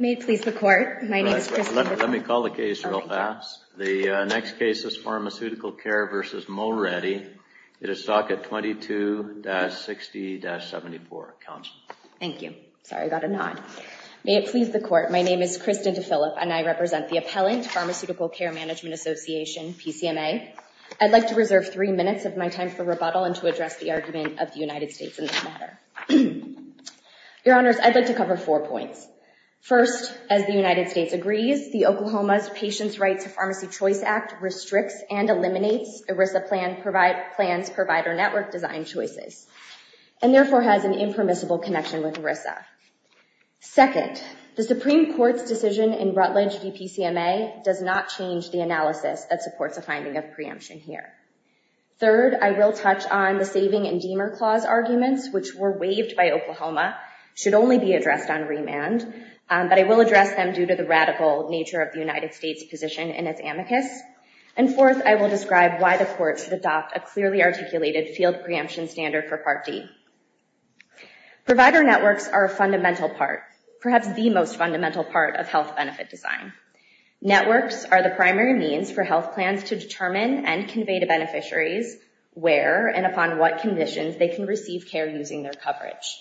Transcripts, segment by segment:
May it please the Court, my name is Kristen DePhilip and I represent the appellant, Pharmaceutical Care Management Association, PCMA. I would like to reserve three minutes of my time for rebuttal and to address the argument of the United States in this matter. Your Honors, I'd like to cover four points. First, as the United States agrees, the Oklahoma's Patients' Right to Pharmacy Choice Act restricts and eliminates ERISA plans provider network design choices and therefore has an impermissible connection with ERISA. Second, the Supreme Court's decision in Rutledge v. PCMA does not change the analysis that supports a finding of preemption here. Third, I will touch on the Saving and Demer Clause arguments which were waived by Oklahoma, should only be addressed on remand, but I will address them due to the radical nature of the United States position in its amicus. And fourth, I will describe why the Court should adopt a clearly articulated field preemption standard for Part D. Provider networks are a fundamental part, perhaps the most fundamental part of health benefit design. Networks are the primary means for health plans to determine and convey to beneficiaries where and upon what conditions they can receive care using their coverage.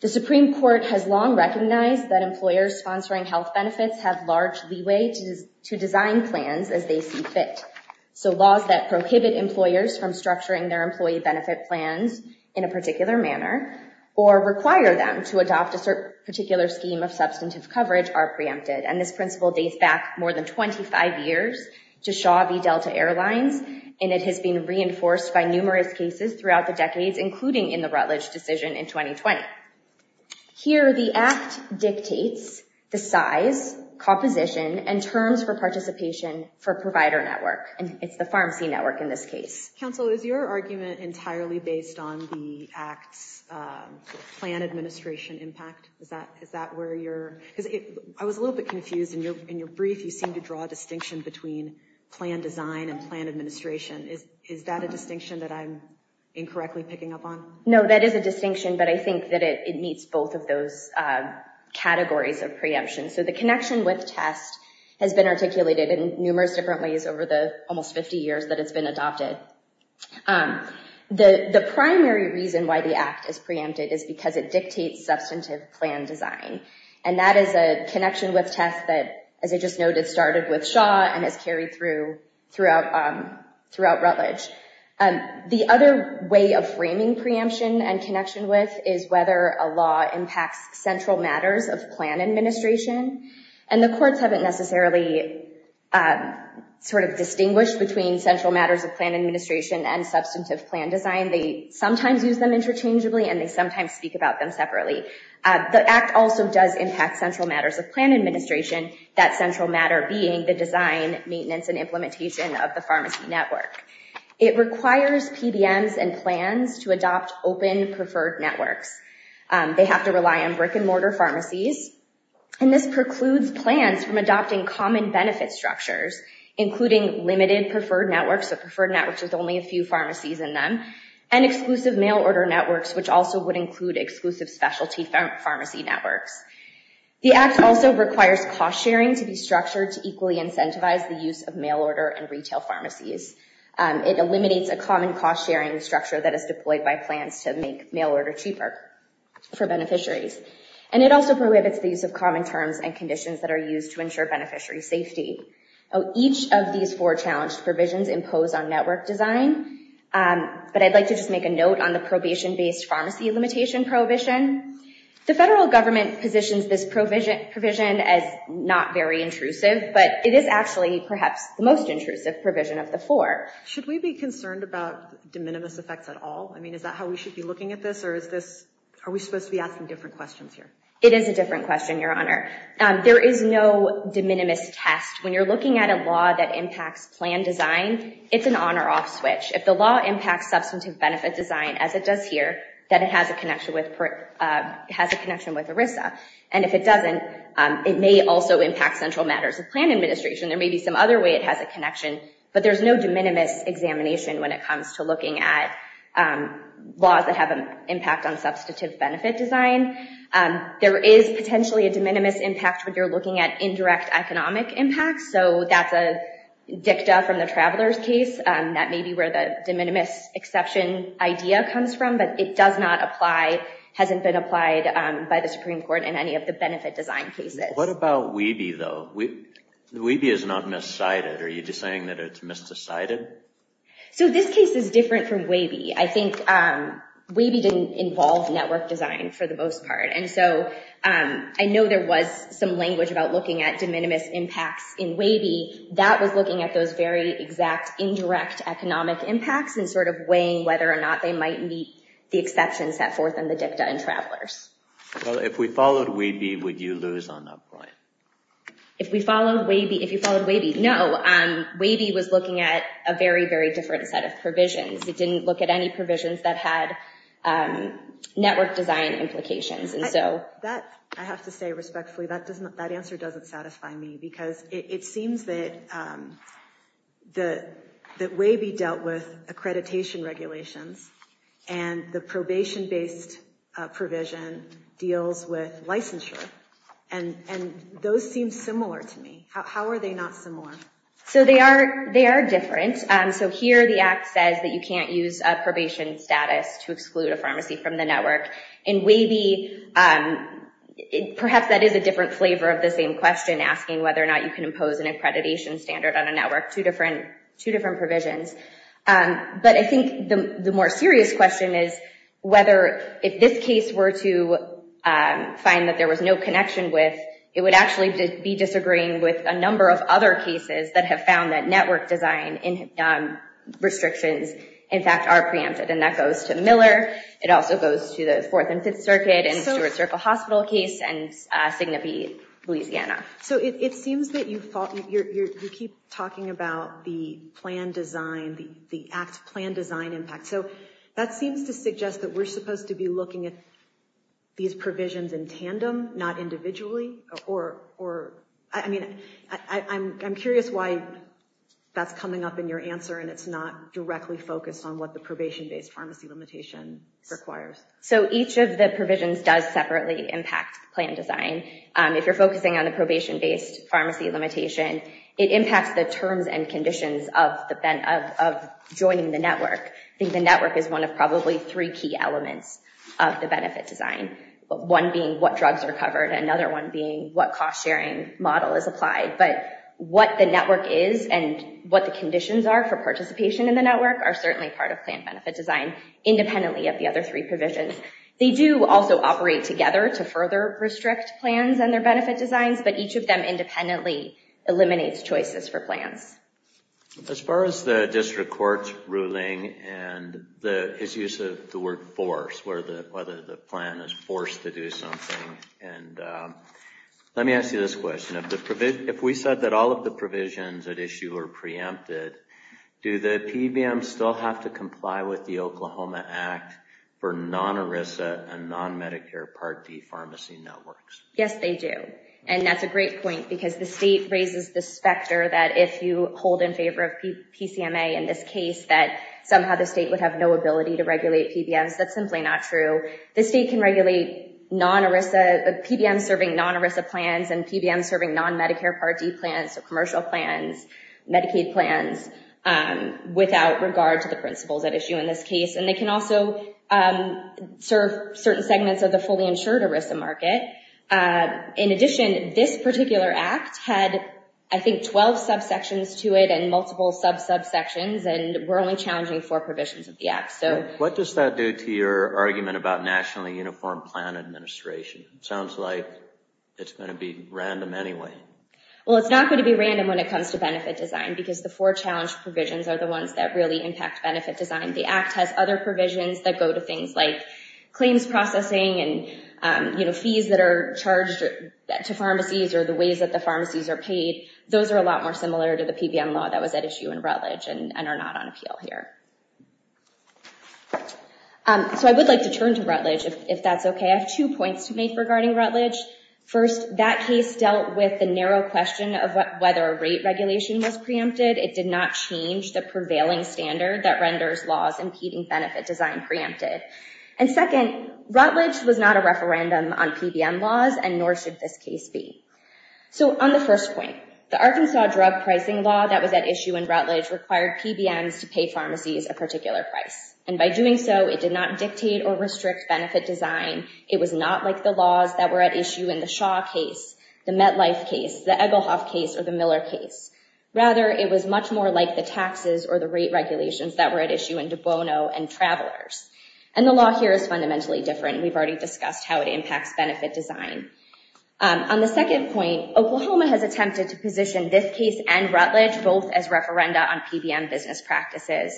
The Supreme Court has long recognized that employers sponsoring health benefits have large leeway to design plans as they see fit. So laws that prohibit employers from structuring their employee benefit plans in a particular manner or require them to adopt a certain particular scheme of substantive coverage are preempted. And this principle dates back more than 25 years to Shaw v. Delta Airlines, and it has been reinforced by numerous cases throughout the decades, including in the Rutledge decision in 2020. Here the Act dictates the size, composition, and terms for participation for provider network. And it's the Pharmacy Network in this case. Counsel, is your argument entirely based on the Act's plan administration impact? Is that where you're... Because I was a little bit confused in your brief, you seem to draw a distinction between plan design and plan administration. Is that a distinction that I'm incorrectly picking up on? No, that is a distinction, but I think that it meets both of those categories of preemption. So the connection with test has been articulated in numerous different ways over the almost 50 years that it's been adopted. The primary reason why the Act is preempted is because it dictates substantive plan design. And that is a connection with test that, as I just noted, started with Shaw and has carried through throughout Rutledge. The other way of framing preemption and connection with is whether a law impacts central matters of plan administration. And the courts haven't necessarily sort of distinguished between central matters of plan administration and substantive plan design. They sometimes use them interchangeably and they sometimes speak about them separately. The Act also does impact central matters of plan administration, that central matter being the design, maintenance, and implementation of the Pharmacy Network. It requires PBMs and plans to adopt open preferred networks. They have to rely on brick and mortar pharmacies. And this precludes plans from adopting common benefit structures, including limited preferred networks, so preferred networks with only a few pharmacies in them, and exclusive mail order networks, which also would include exclusive specialty pharmacy networks. The Act also requires cost sharing to be structured to equally incentivize the use of mail order and retail pharmacies. It eliminates a common cost sharing structure that is deployed by plans to make mail order cheaper for beneficiaries. And it also prohibits the use of common terms and conditions that are used to ensure beneficiary safety. Each of these four challenged provisions impose on network design, but I'd like to just make a note on the probation-based pharmacy limitation prohibition. The federal government positions this provision as not very intrusive, but it is actually perhaps the most intrusive provision of the four. Should we be concerned about de minimis effects at all? I mean, is that how we should be looking at this, or is this, are we supposed to be asking different questions here? It is a different question, Your Honor. There is no de minimis test. When you're looking at a law that impacts plan design, it's an on or off switch. If the law impacts substantive benefit design, as it does here, then it has a connection with ERISA. And if it doesn't, it may also impact central matters of plan administration. There may be some other way it has a connection, but there's no de minimis examination when it comes to looking at laws that have an impact on substantive benefit design. There is potentially a de minimis impact when you're looking at indirect economic impact, so that's a dicta from the traveler's case. That may be where the de minimis exception idea comes from, but it does not apply, hasn't been applied by the Supreme Court in any of the benefit design cases. What about WEBE, though? WEBE is not miscited. Are you just saying that it's misdecided? So this case is different from WEBE. I think WEBE didn't involve network design for the most part, and so I know there was some language about looking at de minimis impacts in WEBE. That was looking at those very exact indirect economic impacts and sort of weighing whether or not they might meet the exceptions set forth in the dicta in travelers. Well, if we followed WEBE, would you lose on that point? If we followed WEBE? If you followed WEBE? No. WEBE was looking at a very, very different set of provisions. It didn't look at any provisions that had network design implications, and so... I have to say respectfully, that answer doesn't satisfy me, because it seems that WEBE dealt with accreditation regulations and the probation-based provision deals with licensure, and those seem similar to me. How are they not similar? So they are different. So here the Act says that you can't use a probation status to exclude a pharmacy from the network. In WEBE, perhaps that is a different flavor of the same question, asking whether or not you can impose an accreditation standard on a network, two different provisions. But I think the more serious question is whether, if this case were to find that there was no network, there's a number of other cases that have found that network design restrictions in fact are preempted. And that goes to Miller, it also goes to the Fourth and Fifth Circuit and the Stewart Circle Hospital case, and signify Louisiana. So it seems that you keep talking about the plan design, the Act's plan design impact. So that seems to suggest that we're supposed to be looking at these provisions in tandem, not individually, or, I mean, I'm curious why that's coming up in your answer and it's not directly focused on what the probation-based pharmacy limitation requires. So each of the provisions does separately impact plan design. If you're focusing on the probation-based pharmacy limitation, it impacts the terms and conditions of joining the network. I think the network is one of probably three key elements of the benefit design, one being what drugs are covered, another one being what cost-sharing model is applied. But what the network is and what the conditions are for participation in the network are certainly part of plan benefit design, independently of the other three provisions. They do also operate together to further restrict plans and their benefit designs, but each of them independently eliminates choices for plans. As far as the district court's ruling and its use of the word force, whether the plan is forced to do something, and let me ask you this question. If we said that all of the provisions at issue are preempted, do the PBMs still have to comply with the Oklahoma Act for non-ERISA and non-Medicare Part D pharmacy networks? Yes, they do, and that's a great point because the state raises this factor that if you hold in favor of PCMA in this case, that somehow the state would have no ability to regulate PBMs. That's simply not true. The state can regulate non-ERISA, PBMs serving non-ERISA plans and PBMs serving non-Medicare Part D plans, so commercial plans, Medicaid plans, without regard to the principles at issue in this case. And they can also serve certain segments of the fully insured ERISA market. In addition, this particular act had, I think, 12 subsections to it and multiple sub-subsections and we're only challenging four provisions of the act. What does that do to your argument about nationally uniformed plan administration? Sounds like it's going to be random anyway. Well, it's not going to be random when it comes to benefit design because the four challenged provisions are the ones that really impact benefit design. The act has other provisions that go to things like claims processing and fees that are charged to pharmacies or the ways that the pharmacies are paid. Those are a lot more similar to the PBM law that was at issue in Rutledge and are not on appeal here. So I would like to turn to Rutledge, if that's okay. I have two points to make regarding Rutledge. First, that case dealt with the narrow question of whether a rate regulation was preempted. It did not change the prevailing standard that renders laws impeding benefit design preempted. And second, Rutledge was not a referendum on PBM laws and nor should this case be. So on the first point, the Arkansas drug pricing law that was at issue in Rutledge required PBMs to pay pharmacies a particular price. And by doing so, it did not dictate or restrict benefit design. It was not like the laws that were at issue in the Shaw case, the MetLife case, the Egelhoff case or the Miller case. Rather, it was much more like the taxes or the rate regulations that were at issue in De Bono and Travelers. And the law here is fundamentally different. We've already discussed how it impacts benefit design. On the second point, Oklahoma has attempted to position this case and Rutledge both as business practices.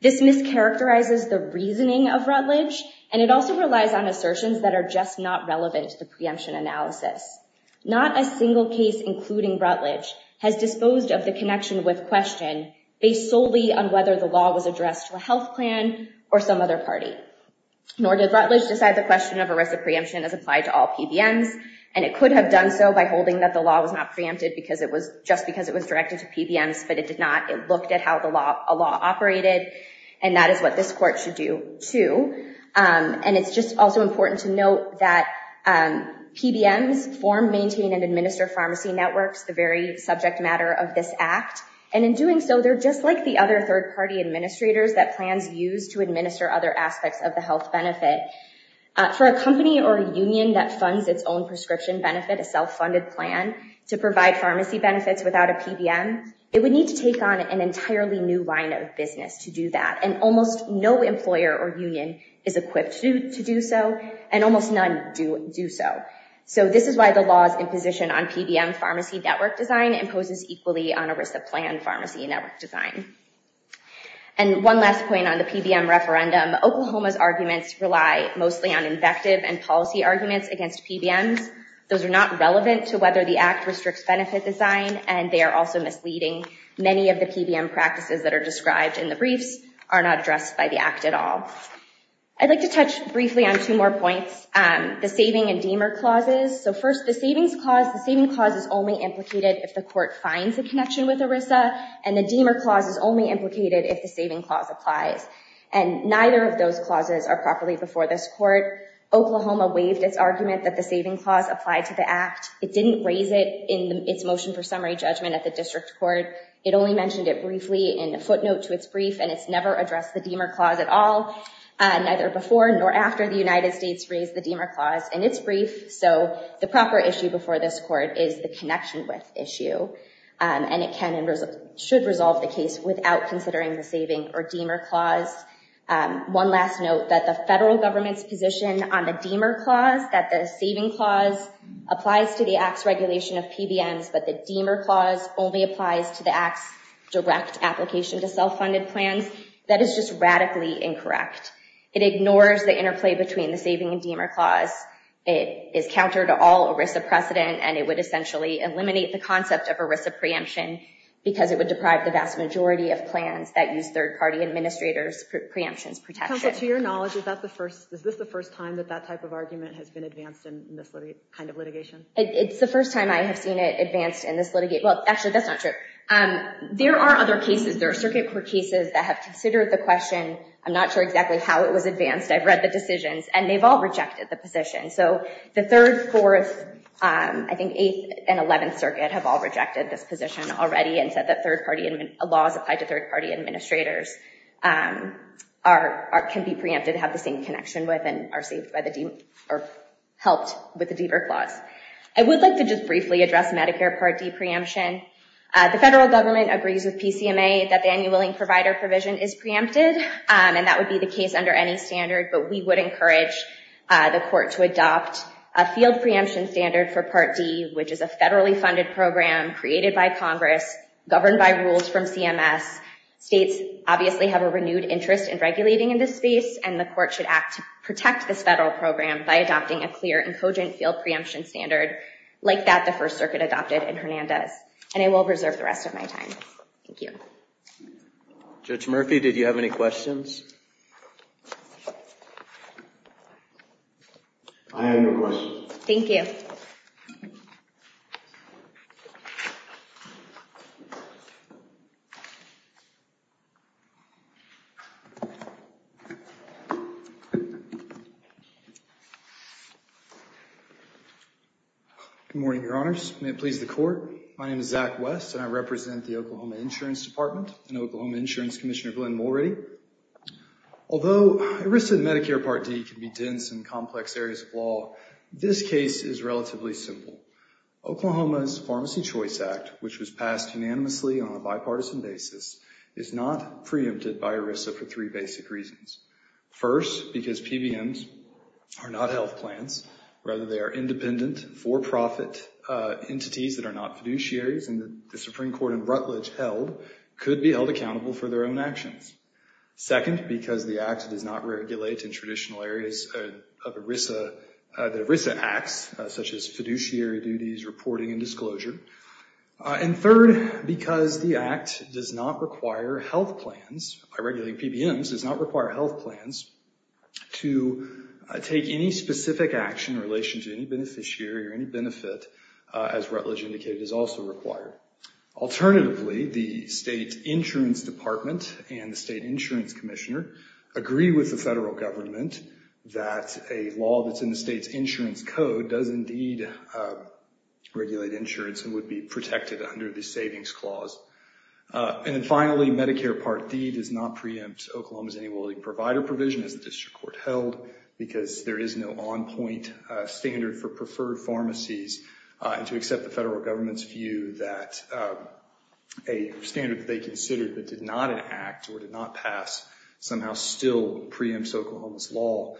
This mischaracterizes the reasoning of Rutledge, and it also relies on assertions that are just not relevant to the preemption analysis. Not a single case, including Rutledge, has disposed of the connection with question based solely on whether the law was addressed to a health plan or some other party. Nor did Rutledge decide the question of arrest of preemption as applied to all PBMs. And it could have done so by holding that the law was not preempted just because it was directed to PBMs. But it did not. It looked at how the law operated, and that is what this court should do too. And it's just also important to note that PBMs form, maintain, and administer pharmacy networks, the very subject matter of this act. And in doing so, they're just like the other third party administrators that plans used to administer other aspects of the health benefit. For a company or a union that funds its own prescription benefit, a self-funded plan to pharmacy benefits without a PBM, it would need to take on an entirely new line of business to do that. And almost no employer or union is equipped to do so, and almost none do so. So this is why the laws in position on PBM pharmacy network design imposes equally on a risk of plan pharmacy network design. And one last point on the PBM referendum, Oklahoma's arguments rely mostly on invective and policy arguments against PBMs. Those are not relevant to whether the act restricts benefit design, and they are also misleading. Many of the PBM practices that are described in the briefs are not addressed by the act at all. I'd like to touch briefly on two more points, the saving and demer clauses. So first, the savings clause, the saving clause is only implicated if the court finds a connection with ERISA, and the demer clause is only implicated if the saving clause applies. And neither of those clauses are properly before this court. Oklahoma waived its argument that the saving clause applied to the act. It didn't raise it in its motion for summary judgment at the district court. It only mentioned it briefly in a footnote to its brief, and it's never addressed the demer clause at all, neither before nor after the United States raised the demer clause in its brief. So the proper issue before this court is the connection with issue, and it can and should resolve the case without considering the saving or demer clause. One last note, that the federal government's position on the demer clause, that the saving clause applies to the act's regulation of PBMs, but the demer clause only applies to the act's direct application to self-funded plans, that is just radically incorrect. It ignores the interplay between the saving and demer clause. It is counter to all ERISA precedent, and it would essentially eliminate the concept of ERISA preemption, because it would deprive the vast majority of plans that use third party preemptions protection. Counsel, to your knowledge, is this the first time that that type of argument has been advanced in this kind of litigation? It's the first time I have seen it advanced in this litigation. Well, actually, that's not true. There are other cases. There are circuit court cases that have considered the question. I'm not sure exactly how it was advanced. I've read the decisions, and they've all rejected the position. So the Third, Fourth, I think Eighth and Eleventh Circuit have all rejected this position already and said that third party laws applied to third party administrators can be preempted and have the same connection with and are saved by the demer or helped with the demer clause. I would like to just briefly address Medicare Part D preemption. The federal government agrees with PCMA that the annual willing provider provision is preempted, and that would be the case under any standard, but we would encourage the court to adopt a field preemption standard for Part D, which is a federally funded program created by Congress governed by rules from CMS. States obviously have a renewed interest in regulating in this space, and the court should act to protect this federal program by adopting a clear and cogent field preemption standard like that the First Circuit adopted in Hernandez. And I will reserve the rest of my time. Thank you. Judge Murphy, did you have any questions? I have no questions. Thank you. Thank you. Good morning, Your Honors. May it please the Court. My name is Zach West, and I represent the Oklahoma Insurance Department and Oklahoma Insurance Commissioner Glenn Mulready. Although a risk to the Medicare Part D can be dense in complex areas of law, this case is relatively simple. Oklahoma's Pharmacy Choice Act, which was passed unanimously on a bipartisan basis, is not preempted by ERISA for three basic reasons. First, because PBMs are not health plans, rather they are independent, for-profit entities that are not fiduciaries, and the Supreme Court in Rutledge held could be held accountable for their own actions. Second, because the Act does not regulate in traditional areas of ERISA, the ERISA acts, such as fiduciary duties, reporting, and disclosure. And third, because the Act does not require health plans, by regulating PBMs, does not require health plans to take any specific action in relation to any beneficiary or any benefit as Rutledge indicated is also required. Alternatively, the State Insurance Department and the State Insurance Commissioner agree with the federal government that a law that's in the state's insurance code does indeed regulate insurance and would be protected under the Savings Clause. And then finally, Medicare Part D does not preempt Oklahoma's Any Willing Provider provision as the District Court held, because there is no on-point standard for preferred pharmacies, and to accept the federal government's view that a standard that they considered but did not enact or did not pass somehow still preempts Oklahoma's law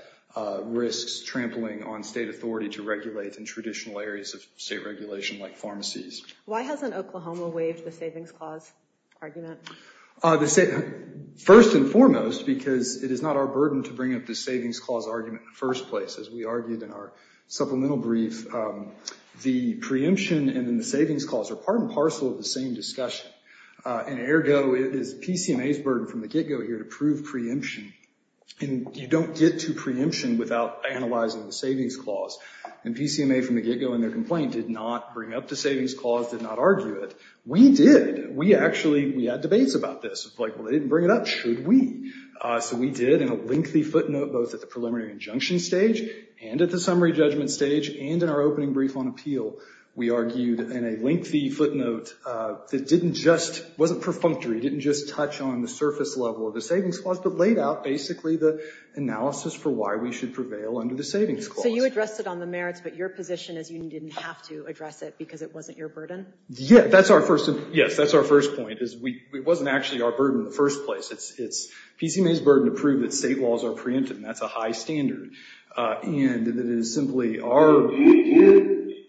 risks trampling on state authority to regulate in traditional areas of state regulation like pharmacies. Why hasn't Oklahoma waived the Savings Clause argument? First and foremost, because it is not our burden to bring up the Savings Clause argument in the first place, as we argued in our supplemental brief. The preemption and then the Savings Clause are part and parcel of the same discussion. And ergo, it is PCMA's burden from the get-go here to prove preemption, and you don't get to preemption without analyzing the Savings Clause. And PCMA from the get-go in their complaint did not bring up the Savings Clause, did not argue it. We did. We actually, we had debates about this, like, well, they didn't bring it up, should we? So we did in a lengthy footnote, both at the preliminary injunction stage and at the summary judgment stage and in our opening brief on appeal, we argued in a lengthy footnote that didn't just, wasn't perfunctory, didn't just touch on the surface level of the Savings Clause, but laid out basically the analysis for why we should prevail under the Savings Clause. So you addressed it on the merits, but your position is you didn't have to address it because it wasn't your burden? Yeah, that's our first, yes, that's our first point, is we, it wasn't actually our burden in the first place. It's, it's, PCMA's burden to prove that state laws are preemptive, and that's a high standard. And that it is simply our... Do you, do you,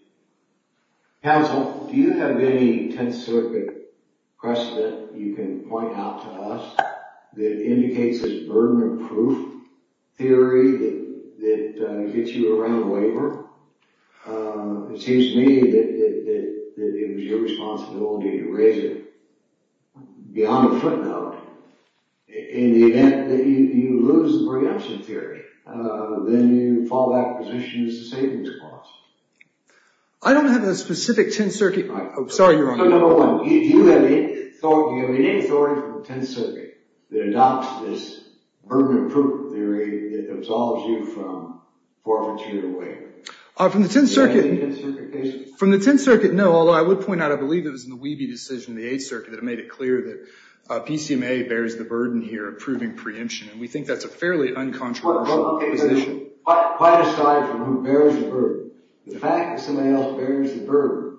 counsel, do you have any Tenth Circuit precedent you can point out to us that indicates this burden of proof theory that, that gets you around labor? It seems to me that, that, that it was your responsibility to raise it beyond a footnote in the event that you, you lose the preemption theory. Then you fall back to position as the Savings Clause. I don't have a specific Tenth Circuit... Oh, sorry, Your Honor. No, no, no. Do you have any authority from the Tenth Circuit that adopts this burden of proof theory that From the Tenth Circuit... Do you have any Tenth Circuit cases? From the Tenth Circuit, no, although I would point out, I believe it was in the Wiebe decision in the Eighth Circuit that made it clear that PCMA bears the burden here of proving preemption, and we think that's a fairly uncontroversial position. Well, well, well, quite aside from who bears the burden, the fact that somebody else bears the burden,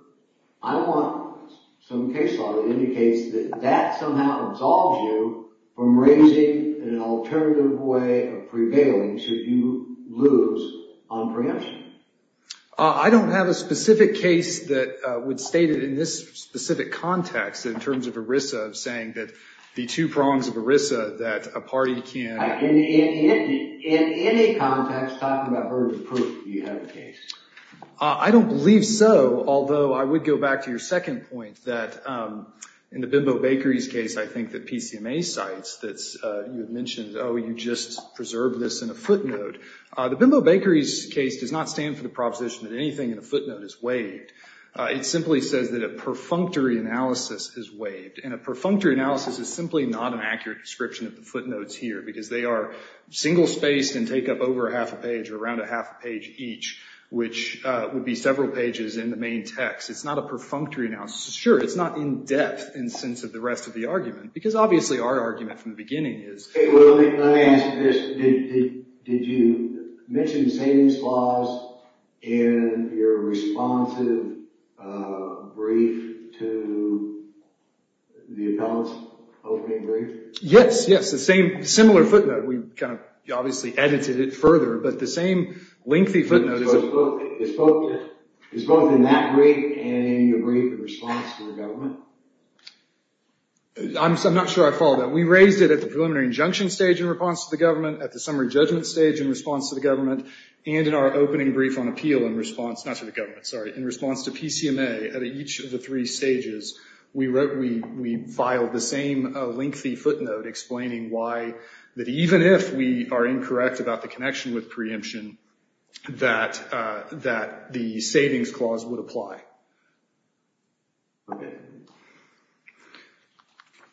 I want some case law that indicates that that somehow absolves you from raising an alternative way of prevailing should you lose on preemption. I don't have a specific case that would state it in this specific context in terms of ERISA saying that the two prongs of ERISA that a party can... In any context, talking about burden of proof, do you have a case? I don't believe so, although I would go back to your second point that in the Bimbo Bakery's case, I think that PCMA cites that you had mentioned, oh, you just preserved this in a footnote. The Bimbo Bakery's case does not stand for the proposition that anything in a footnote is waived. It simply says that a perfunctory analysis is waived, and a perfunctory analysis is simply not an accurate description of the footnotes here because they are single-spaced and take up over a half a page or around a half a page each, which would be several pages in the main text. It's not a perfunctory analysis. Sure. It's not in-depth in the sense of the rest of the argument because obviously our argument from the beginning is... Well, let me ask this. Did you mention the same flaws in your responsive brief to the appellant's opening brief? Yes, yes. The same, similar footnote. We kind of obviously edited it further, but the same lengthy footnote is... In response to the government? I'm not sure I followed that. We raised it at the preliminary injunction stage in response to the government, at the summary judgment stage in response to the government, and in our opening brief on appeal in response... Not to the government, sorry. In response to PCMA at each of the three stages, we filed the same lengthy footnote explaining why that even if we are incorrect about the connection with preemption, that the savings clause would apply. Okay.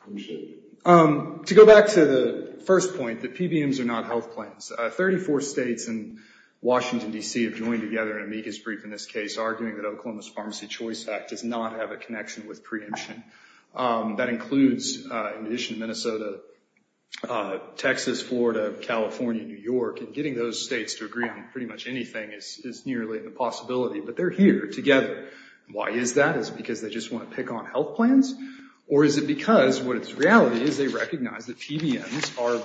Appreciate it. To go back to the first point that PBMs are not health plans, 34 states and Washington, D.C. have joined together in amicus brief in this case arguing that Oklahoma's Pharmacy Choice Act does not have a connection with preemption. That includes, in addition to Minnesota, Texas, Florida, California, New York, and getting those states to agree on pretty much anything is nearly a possibility, but they're here together. Why is that? Is it because they just want to pick on health plans? Or is it because what is reality is they recognize that PBMs are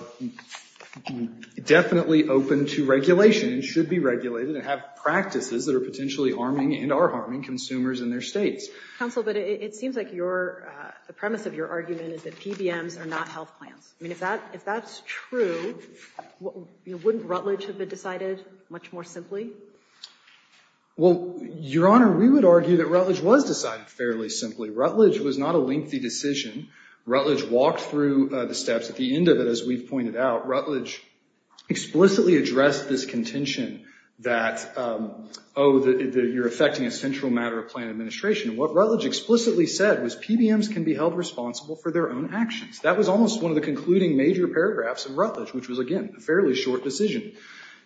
definitely open to regulation and should be regulated and have practices that are potentially harming and are harming consumers in their states? Counsel, but it seems like the premise of your argument is that PBMs are not health plans. I mean, if that's true, wouldn't Rutledge have been decided much more simply? Well, Your Honor, we would argue that Rutledge was decided fairly simply. Rutledge was not a lengthy decision. Rutledge walked through the steps at the end of it, as we've pointed out. Rutledge explicitly addressed this contention that, oh, that you're affecting a central matter of plan administration. What Rutledge explicitly said was PBMs can be held responsible for their own actions. That was almost one of the concluding major paragraphs of Rutledge, which was, again, a fairly short decision.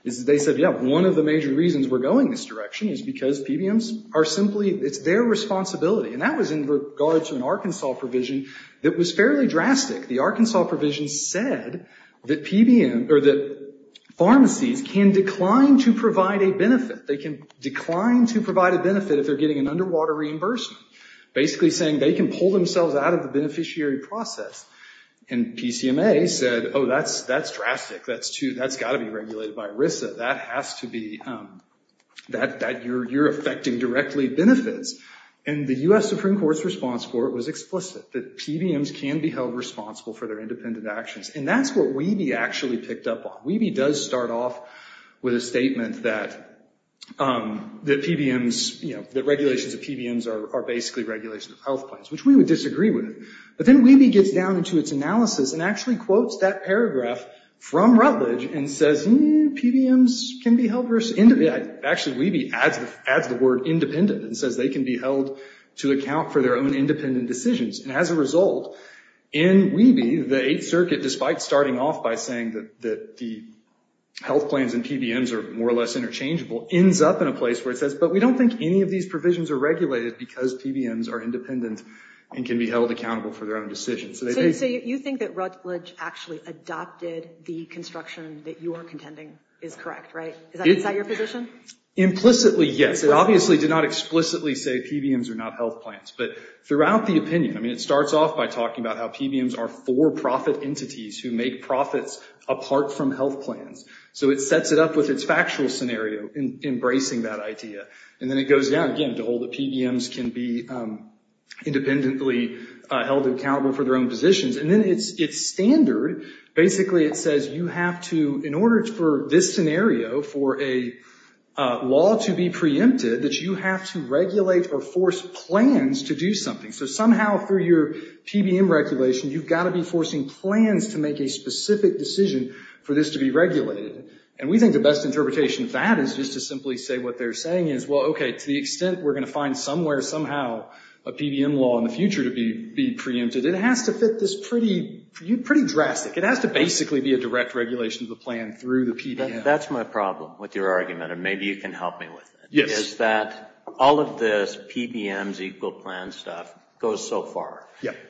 They said, yeah, one of the major reasons we're going this direction is because PBMs are simply, it's their responsibility, and that was in regard to an Arkansas provision that was fairly drastic. The Arkansas provision said that pharmacies can decline to provide a benefit. They can decline to provide a benefit if they're getting an underwater reimbursement, basically saying they can pull themselves out of the beneficiary process. And PCMA said, oh, that's drastic. That's got to be regulated by ERISA. That has to be, that you're affecting directly benefits. And the U.S. Supreme Court's response for it was explicit, that PBMs can be held responsible for their independent actions. And that's what Weeby actually picked up on. Weeby does start off with a statement that PBMs, that regulations of PBMs are basically regulations of health plans, which we would disagree with. But then Weeby gets down into its analysis and actually quotes that paragraph from Rutledge and says, PBMs can be held, actually, Weeby adds the word independent and says they can be held to account for their own independent decisions. And as a result, in Weeby, the Eighth Circuit, despite starting off by saying that the health plans and PBMs are more or less interchangeable, ends up in a place where it says, but we don't think any of these provisions are regulated because PBMs are independent and can be held accountable for their own decisions. So you think that Rutledge actually adopted the construction that you are contending is correct, right? Is that your position? Implicitly, yes. It obviously did not explicitly say PBMs are not health plans. But throughout the opinion, I mean, it starts off by talking about how PBMs are for-profit entities who make profits apart from health plans. So it sets it up with its factual scenario in embracing that idea. And then it goes down, again, to hold that PBMs can be independently held accountable for their own positions. And then it's standard. Basically it says you have to, in order for this scenario, for a law to be preempted, that you have to regulate or force plans to do something. So somehow through your PBM regulation, you've got to be forcing plans to make a specific decision for this to be regulated. And we think the best interpretation of that is just to simply say what they're saying is, well, okay, to the extent we're going to find somewhere, somehow, a PBM law in the future to be preempted, it has to fit this pretty drastic, it has to basically be a direct regulation of the plan through the PBM. That's my problem with your argument, and maybe you can help me with it, is that all of this PBMs equal plan stuff goes so far.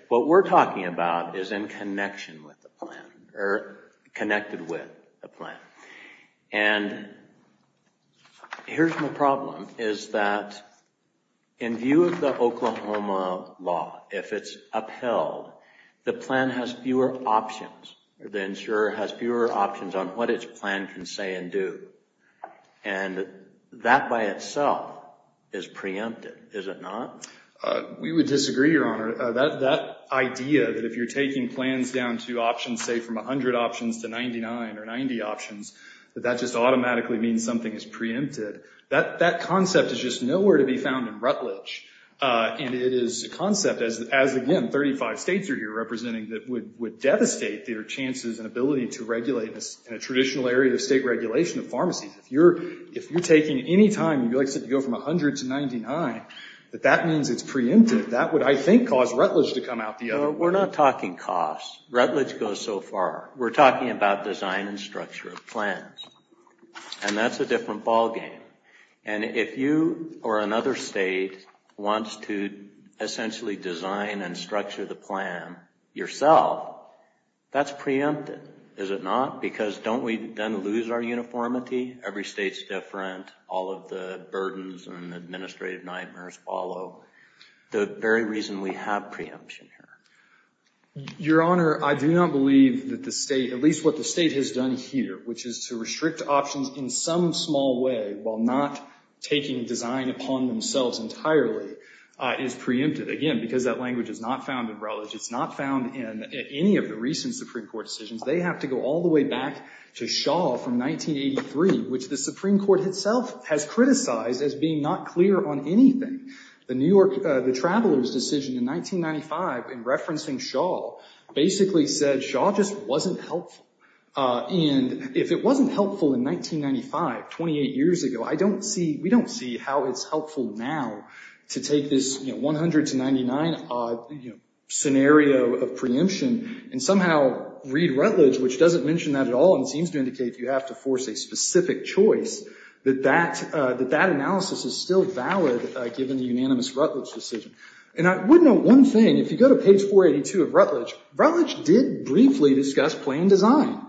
What we're talking about is in connection with the plan, or connected with the plan. And here's my problem, is that in view of the Oklahoma law, if it's upheld, the plan has fewer options, the insurer has fewer options on what its plan can say and do. And that by itself is preempted, is it not? We would disagree, Your Honor. That idea that if you're taking plans down to options, say from 100 options to 99 or 90 options, that that just automatically means something is preempted, that concept is just nowhere to be found in Rutledge. And it is a concept, as again, 35 states are here representing, that would devastate their chances and ability to regulate in a traditional area of state regulation of pharmacies. If you're taking any time, you like to go from 100 to 99, that that means it's preempted. That would, I think, cause Rutledge to come out the other way. We're not talking costs. Rutledge goes so far. We're talking about design and structure of plans. And that's a different ballgame. And if you or another state wants to essentially design and structure the plan yourself, that's preempted, is it not? Because don't we then lose our uniformity? Every state's different. All of the burdens and administrative nightmares follow. The very reason we have preemption here. Your Honor, I do not believe that the state, at least what the state has done here, which is to restrict options in some small way while not taking design upon themselves entirely, is preempted. Again, because that language is not found in Rutledge. It's not found in any of the recent Supreme Court decisions. They have to go all the way back to Shaw from 1983, which the Supreme Court itself has criticized as being not clear on anything. The New York, the Traveler's decision in 1995 in referencing Shaw basically said Shaw just wasn't helpful. And if it wasn't helpful in 1995, 28 years ago, I don't see, we don't see how it's helpful now to take this 100 to 99 scenario of preemption and somehow read Rutledge, which doesn't mention that at all and seems to indicate you have to force a specific choice, that that analysis is still valid given the unanimous Rutledge decision. And I would note one thing. If you go to page 482 of Rutledge, Rutledge did briefly discuss plan design.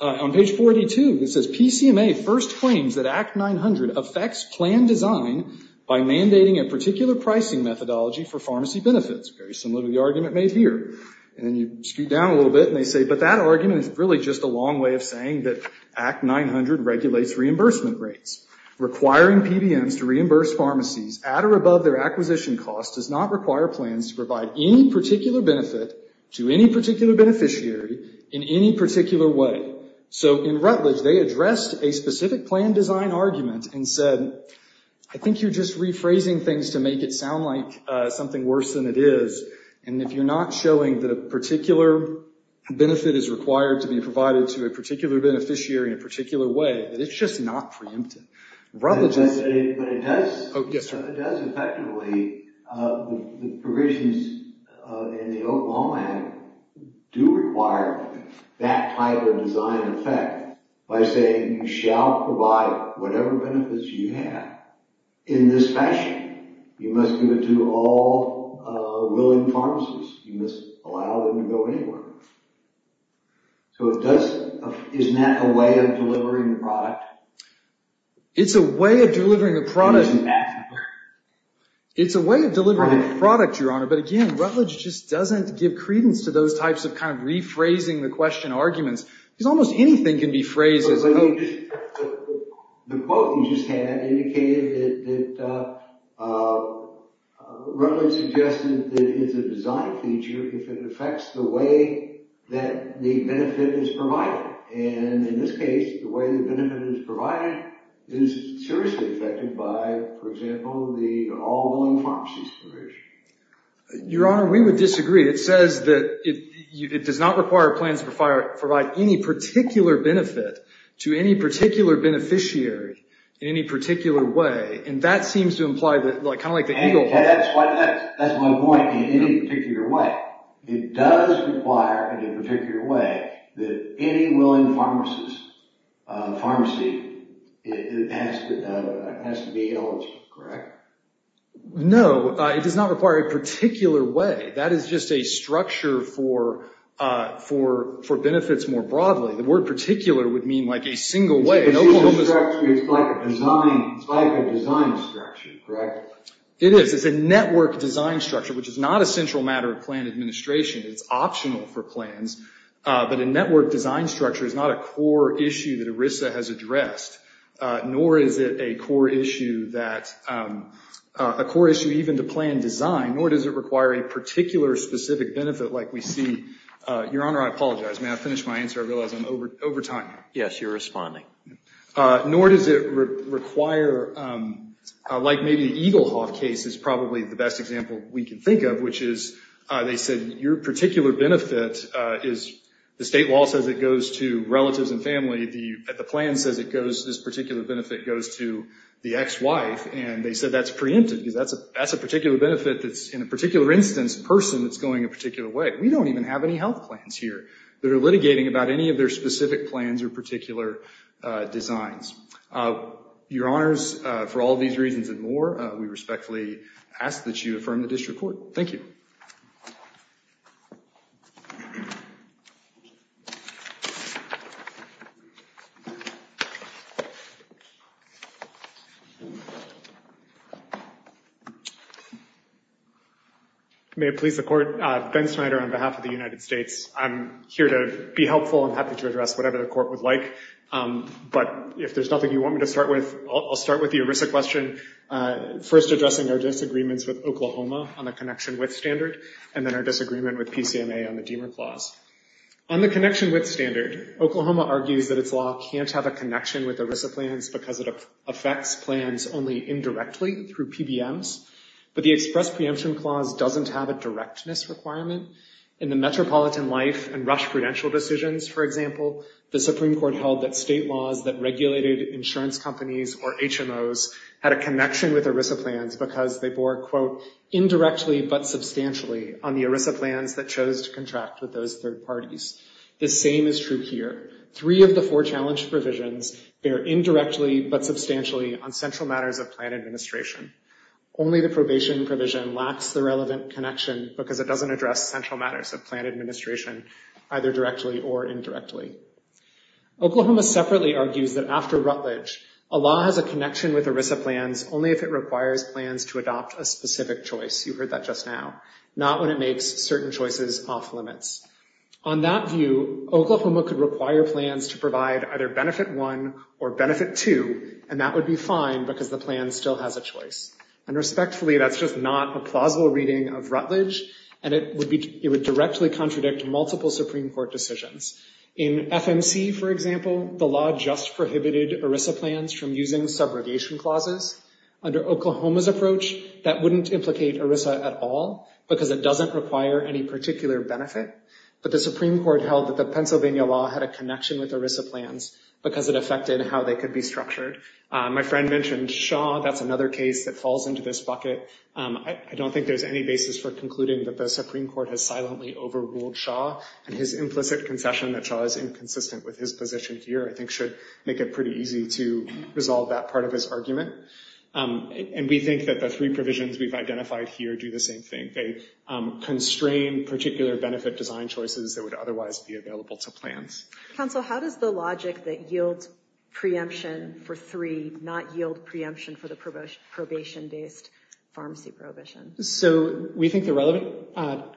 On page 482, it says PCMA first claims that Act 900 affects plan design by mandating a particular pricing methodology for pharmacy benefits, very similar to the argument made here. And then you scoot down a little bit and they say, but that argument is really just a long way of saying that Act 900 regulates reimbursement rates. Requiring PBMs to reimburse pharmacies at or above their acquisition cost does not require plans to provide any particular benefit to any particular beneficiary in any particular way. So in Rutledge, they addressed a specific plan design argument and said, I think you're just rephrasing things to make it sound like something worse than it is. And if you're not showing that a particular benefit is required to be provided to a particular beneficiary in a particular way, that it's just not preemptive. Rutledge is- But it does- Oh, yes, sir. It does effectively, the provisions in the Oklahoma Act do require that type of design effect by saying you shall provide whatever benefits you have in this fashion. You must give it to all willing pharmacies. You must allow them to go anywhere. It's a way of delivering a product. It's a way of delivering a product, Your Honor, but again, Rutledge just doesn't give credence to those types of kind of rephrasing the question arguments because almost anything can be phrased as- The quote you just had indicated that Rutledge suggested that it's a design feature if it affects the way that the benefit is provided. And in this case, the way the benefit is provided is seriously affected by, for example, the all willing pharmacies provision. Your Honor, we would disagree. It says that it does not require plans to provide any particular benefit to any particular beneficiary in any particular way, and that seems to imply that, kind of like the eagle- That's my point, in any particular way. It does require, in a particular way, that any willing pharmacy has to be eligible, correct? No, it does not require a particular way. That is just a structure for benefits more broadly. The word particular would mean like a single way. It's like a design structure, correct? It is. It is a network design structure, which is not a central matter of plan administration. It's optional for plans. But a network design structure is not a core issue that ERISA has addressed, nor is it a core issue even to plan design, nor does it require a particular specific benefit like we see- Your Honor, I apologize. May I finish my answer? I realize I'm over time. Yes, you're responding. Nor does it require, like maybe the Eagle Hoff case is probably the best example we can think of, which is they said your particular benefit is- The state law says it goes to relatives and family. The plan says this particular benefit goes to the ex-wife, and they said that's preempted because that's a particular benefit that's, in a particular instance, a person that's going a particular way. We don't even have any health plans here that are litigating about any of their specific plans or particular designs. Your Honors, for all these reasons and more, we respectfully ask that you affirm the district court. Thank you. May it please the Court, Ben Snyder on behalf of the United States. I'm here to be helpful. I'm happy to address whatever the Court would like, but if there's nothing you want me to start with, I'll start with the ERISA question, first addressing our disagreements with Oklahoma on the connection with standard, and then our disagreement with PCMA on the Deamer Clause. On the connection with standard, Oklahoma argues that its law can't have a connection with ERISA plans because it affects plans only indirectly through PBMs, but the express preemption clause doesn't have a directness requirement. In the Metropolitan Life and Rush Prudential decisions, for example, the Supreme Court held that state laws that regulated insurance companies or HMOs had a connection with ERISA plans because they bore, quote, indirectly but substantially on the ERISA plans that chose to contract with those third parties. The same is true here. Three of the four challenge provisions bear indirectly but substantially on central matters of plan administration. Only the probation provision lacks the relevant connection because it doesn't address central matters of plan administration, either directly or indirectly. Oklahoma separately argues that after Rutledge, a law has a connection with ERISA plans only if it requires plans to adopt a specific choice. You heard that just now. Not when it makes certain choices off-limits. On that view, Oklahoma could require plans to provide either Benefit 1 or Benefit 2, and that would be fine because the plan still has a choice. And respectfully, that's just not a plausible reading of Rutledge, and it would directly contradict multiple Supreme Court decisions. In FMC, for example, the law just prohibited ERISA plans from using subrogation clauses. Under Oklahoma's approach, that wouldn't implicate ERISA at all because it doesn't require any particular benefit. But the Supreme Court held that the Pennsylvania law had a connection with ERISA plans because it affected how they could be structured. My friend mentioned Shaw. That's another case that falls into this bucket. I don't think there's any basis for concluding that the Supreme Court has silently overruled Shaw, and his implicit concession that Shaw is inconsistent with his position here I think should make it pretty easy to resolve that part of his argument. And we think that the three provisions we've identified here do the same thing. They constrain particular benefit design choices that would otherwise be available to plans. Counsel, how does the logic that yields preemption for three not yield preemption for the probation-based pharmacy prohibition? So we think the relevant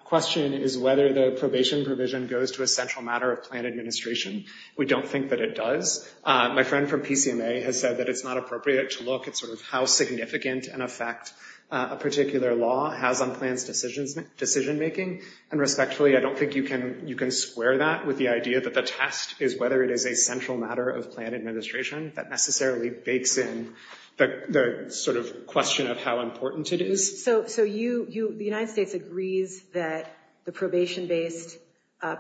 question is whether the probation provision goes to a central matter of plan administration. We don't think that it does. My friend from PCMA has said that it's not appropriate to look at sort of how significant an effect a particular law has on plans' decision making. And respectfully, I don't think you can square that with the idea that the test is whether it is a central matter of plan administration. That necessarily bakes in the sort of question of how important it is. So the United States agrees that the probation-based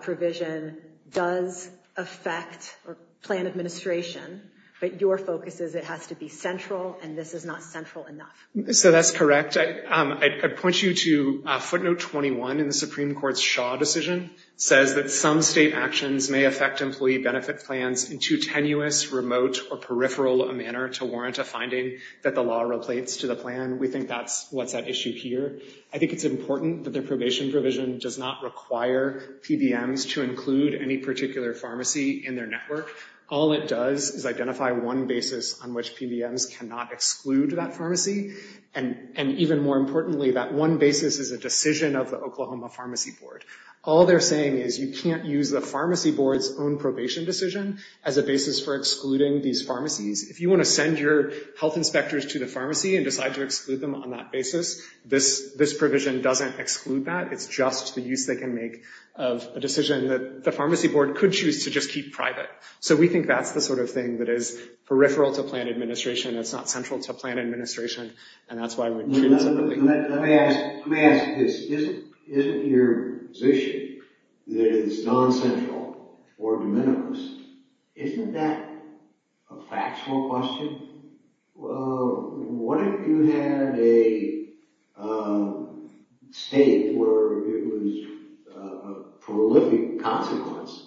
provision does affect plan administration, but your focus is it has to be central, and this is not central enough. So that's correct. I'd point you to footnote 21 in the Supreme Court's Shaw decision. It says that some state actions may affect employee benefit plans in too tenuous, remote, or peripheral a manner to warrant a finding that the law replaces to the plan. We think that's what's at issue here. I think it's important that the probation provision does not require PBMs to include any particular pharmacy in their network. All it does is identify one basis on which PBMs cannot exclude that pharmacy, and even more importantly, that one basis is a decision of the Oklahoma Pharmacy Board. All they're saying is you can't use the pharmacy board's own probation decision as a basis for excluding these pharmacies. If you want to send your health inspectors to the pharmacy and decide to exclude them on that basis, this provision doesn't exclude that. It's just the use they can make of a decision that the pharmacy board could choose to just keep private. So we think that's the sort of thing that is peripheral to plan administration. It's not central to plan administration, and that's why we choose it. Let me ask this. Isn't your position that it's non-central or de minimis, isn't that a factual question? What if you had a state where it was a prolific consequence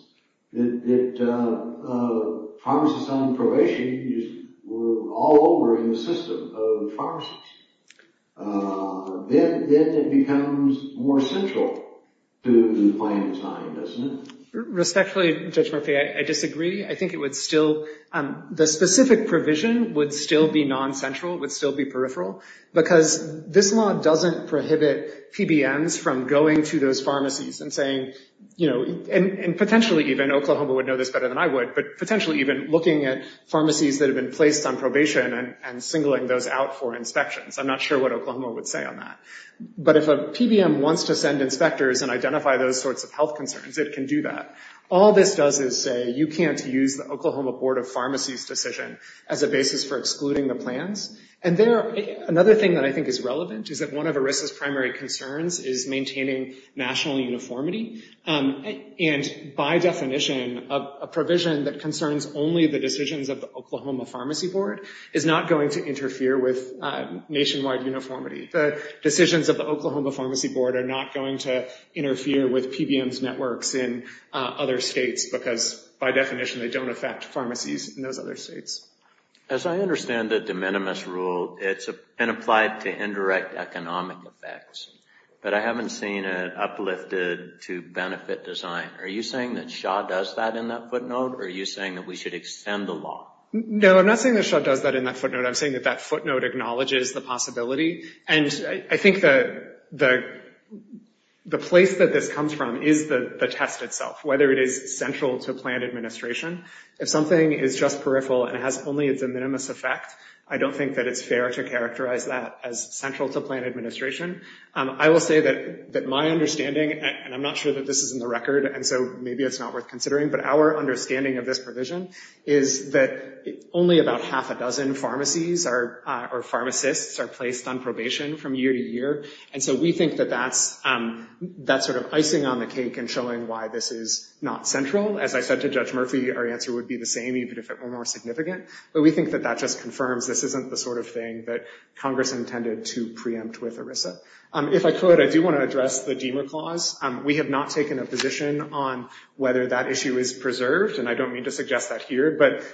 that pharmacists on probation were all over the system of pharmacies? Then it becomes more central to the plan design, doesn't it? Respectfully, Judge Murphy, I disagree. I think it would still, the specific provision would still be non-central, would still be peripheral, because this law doesn't prohibit PBMs from going to those pharmacies and saying, you know, and potentially even, Oklahoma would know this better than I would, but potentially even looking at pharmacies that have been placed on probation and singling those out for inspections. I'm not sure what Oklahoma would say on that. But if a PBM wants to send inspectors and identify those sorts of health concerns, it can do that. All this does is say, you can't use the Oklahoma Board of Pharmacy's decision as a basis for excluding the plans. And there, another thing that I think is relevant is that one of ERISA's primary concerns is maintaining national uniformity. And by definition, a provision that concerns only the decisions of the Oklahoma Pharmacy Board is not going to interfere with nationwide uniformity. The decisions of the Oklahoma Pharmacy Board are not going to interfere with PBMs' networks in other states because, by definition, they don't affect pharmacies in those other states. As I understand the de minimis rule, it's been applied to indirect economic effects. But I haven't seen it uplifted to benefit design. Are you saying that Shaw does that in that footnote? Or are you saying that we should extend the law? No, I'm not saying that Shaw does that in that footnote. I'm saying that that footnote acknowledges the possibility. And I think the place that this comes from is the test itself, whether it is central to plan administration. If something is just peripheral and only has a de minimis effect, I don't think that it's fair to characterize that as central to plan administration. I will say that my understanding, and I'm not sure that this is in the record, and so maybe it's not worth considering, but our understanding of this provision is that only about half a dozen pharmacies or pharmacists are placed on probation from year to year. And so we think that that's sort of icing on the cake and showing why this is not central. As I said to Judge Murphy, our answer would be the same even if it were more significant. But we think that that just confirms this isn't the sort of thing that Congress intended to preempt with ERISA. If I could, I do want to address the Diemer Clause. We have not taken a position on whether that issue is preserved, and I don't mean to suggest that here. But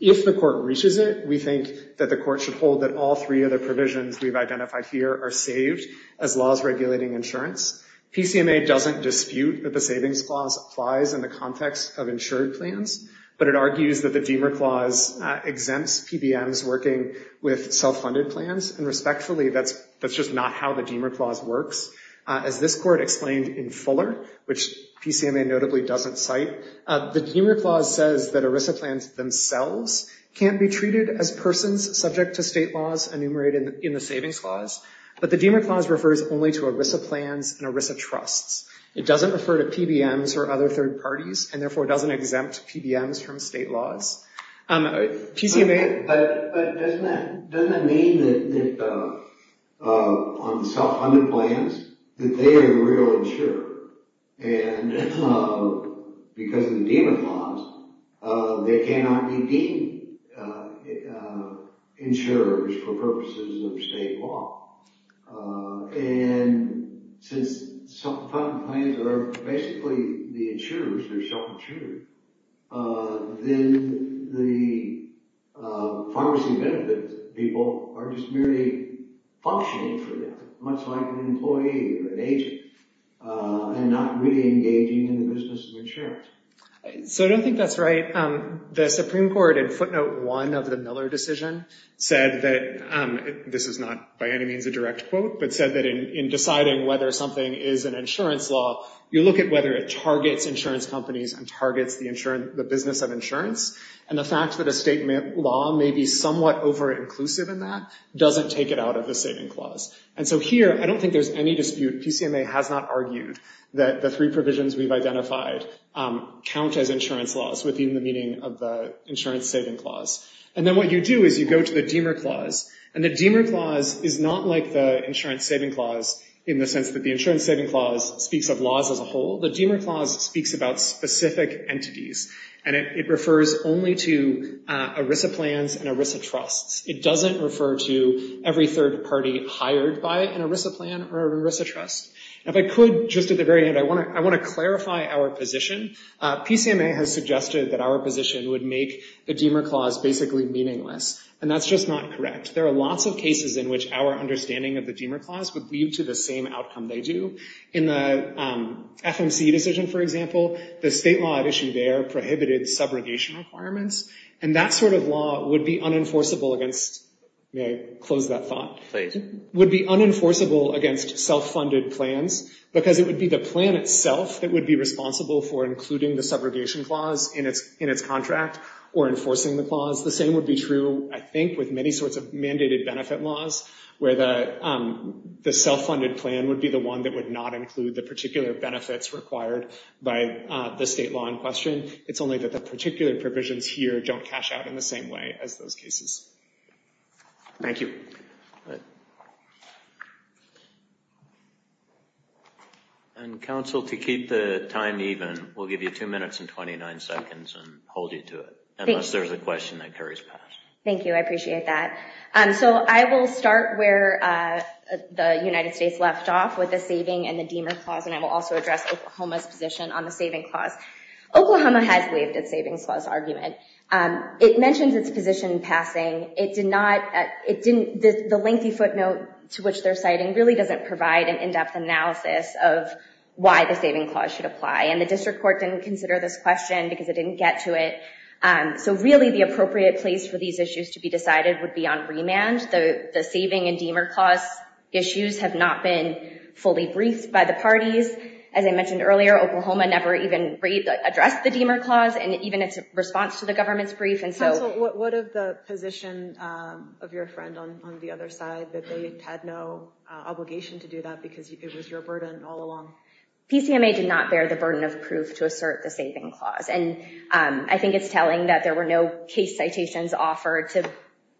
if the court reaches it, we think that the court should hold that all three of the provisions we've identified here are saved as laws regulating insurance. PCMA doesn't dispute that the Savings Clause applies in the context of insured plans, but it argues that the Diemer Clause exempts PBMs working with self-funded plans, and respectfully, that's just not how the Diemer Clause works. As this court explained in Fuller, which PCMA notably doesn't cite, the Diemer Clause says that ERISA plans themselves can't be treated as persons subject to state laws enumerated in the Savings Clause, but the Diemer Clause refers only to ERISA plans and ERISA trusts. It doesn't refer to PBMs or other third parties, and therefore doesn't exempt PBMs from state laws. PCMA... But doesn't that mean that on the self-funded plans, that they are the real insurer? And because of the Diemer Clause, they cannot be deemed insurers for purposes of state law. And since self-funded plans are basically the insurers, they're self-insured, then the pharmacy benefits people are just merely functioning for them, much like an employee or an agent, and not really engaging in the business of insurance. So I don't think that's right. The Supreme Court, in footnote one of the Miller decision, said that... This is not by any means a direct quote, but said that in deciding whether something is an insurance law, you look at whether it targets insurance companies and targets the business of insurance, and the fact that a state law may be somewhat over-inclusive in that doesn't take it out of the Savings Clause. And so here, I don't think there's any dispute. PCMA has not argued that the three provisions we've identified count as insurance laws within the meaning of the Insurance Savings Clause. And then what you do is you go to the Diemer Clause, and the Diemer Clause is not like the Insurance Savings Clause in the sense that the Insurance Savings Clause speaks of laws as a whole. The Diemer Clause speaks about specific entities, and it refers only to ERISA plans and ERISA trusts. It doesn't refer to every third party hired by an ERISA plan or an ERISA trust. If I could, just at the very end, I want to clarify our position. PCMA has suggested that our position would make the Diemer Clause basically meaningless, and that's just not correct. There are lots of cases in which our understanding of the Diemer Clause would lead to the same outcome they do. In the FMC decision, for example, the state law at issue there prohibited subrogation requirements, and that sort of law would be unenforceable against, may I close that thought, would be unenforceable against self-funded plans because it would be the plan itself that would be responsible for including the subrogation clause in its contract or enforcing the clause. The same would be true, I think, with many sorts of mandated benefit laws where the self-funded plan would be the one that would not include the particular benefits required by the state law in question. It's only that the particular provisions here don't cash out in the same way as those cases. Thank you. And, counsel, to keep the time even, we'll give you two minutes and 29 seconds and hold you to it, unless there's a question that carries past. Thank you. I appreciate that. So I will start where the United States left off with the saving and the Diemer Clause, and I will also address Oklahoma's position on the saving clause. Oklahoma has waived its savings clause argument. It mentions its position in passing. The lengthy footnote to which they're citing really doesn't provide an in-depth analysis of why the saving clause should apply, and the district court didn't consider this question because it didn't get to it. So, really, the appropriate place for these issues to be decided would be on remand. The saving and Diemer Clause issues have not been fully briefed by the parties. As I mentioned earlier, Oklahoma never even addressed the Diemer Clause and even its response to the government's brief. Counsel, what of the position of your friend on the other side, that they had no obligation to do that because it was your burden all along? PCMA did not bear the burden of proof to assert the saving clause, and I think it's telling that there were no case citations offered to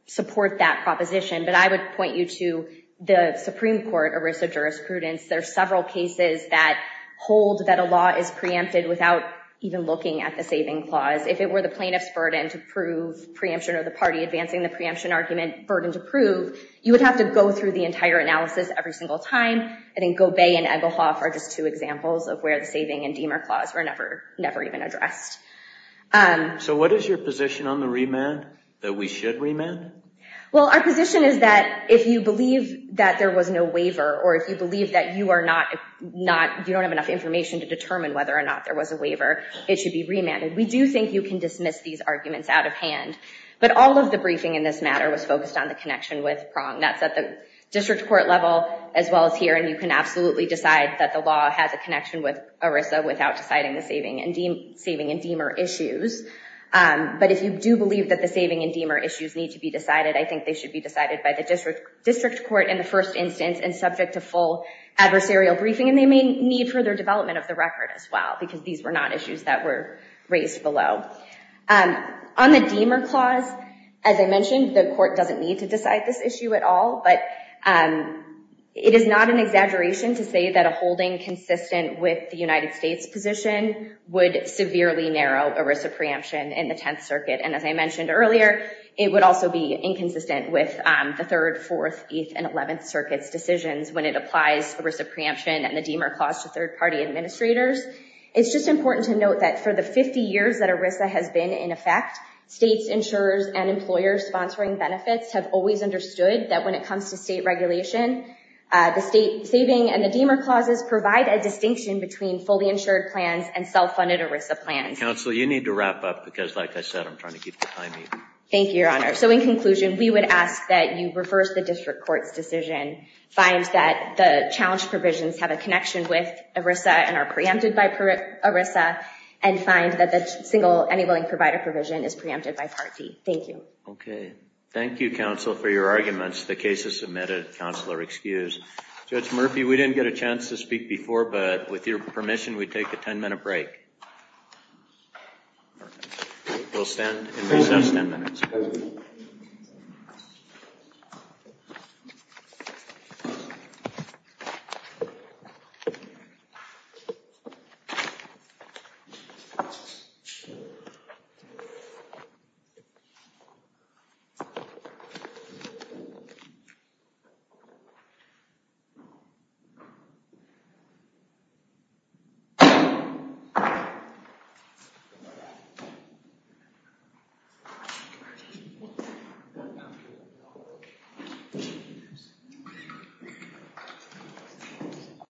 support that proposition. But I would point you to the Supreme Court, ERISA jurisprudence. There are several cases that hold that a law is preempted without even looking at the saving clause. If it were the plaintiff's burden to prove preemption or the party advancing the preemption argument burden to prove, you would have to go through the entire analysis every single time, and then Gobey and Egelhoff are just two examples of where the saving and Diemer Clause were never even addressed. So what is your position on the remand, that we should remand? Well, our position is that if you believe that there was no waiver, or if you believe that you don't have enough information to determine whether or not there was a waiver, it should be remanded. We do think you can dismiss these arguments out of hand, but all of the briefing in this matter was focused on the connection with Prong. That's at the district court level as well as here, and you can absolutely decide that the law has a connection with ERISA without deciding the saving and Diemer issues. But if you do believe that the saving and Diemer issues need to be decided, I think they should be decided by the district court in the first instance and subject to full adversarial briefing, and they may need further development of the record as well, because these were not issues that were raised below. On the Diemer Clause, as I mentioned, the court doesn't need to decide this issue at all, but it is not an exaggeration to say that a holding consistent with the United States position would severely narrow ERISA preemption in the Tenth Circuit, and as I mentioned earlier, it would also be inconsistent with the Third, Fourth, Eighth, and Eleventh Circuit's decisions when it applies ERISA preemption and the Diemer Clause to third-party administrators. It's just important to note that for the 50 years that ERISA has been in effect, states, insurers, and employers sponsoring benefits have always understood that when it comes to state regulation, the state saving and the Diemer Clauses provide a distinction between fully insured plans and self-funded ERISA plans. Counsel, you need to wrap up, because like I said, I'm trying to keep the time even. Thank you, Your Honor. So in conclusion, we would ask that you reverse the district court's decision, find that the challenge provisions have a connection with ERISA and are preempted by ERISA, and find that the single, any willing provider provision is preempted by Part D. Okay. Thank you, Counsel, for your arguments. The case is submitted. Counsel are excused. Judge Murphy, we didn't get a chance to speak before, but with your permission, we take a ten-minute break. We'll stand and recess ten minutes. Thank you.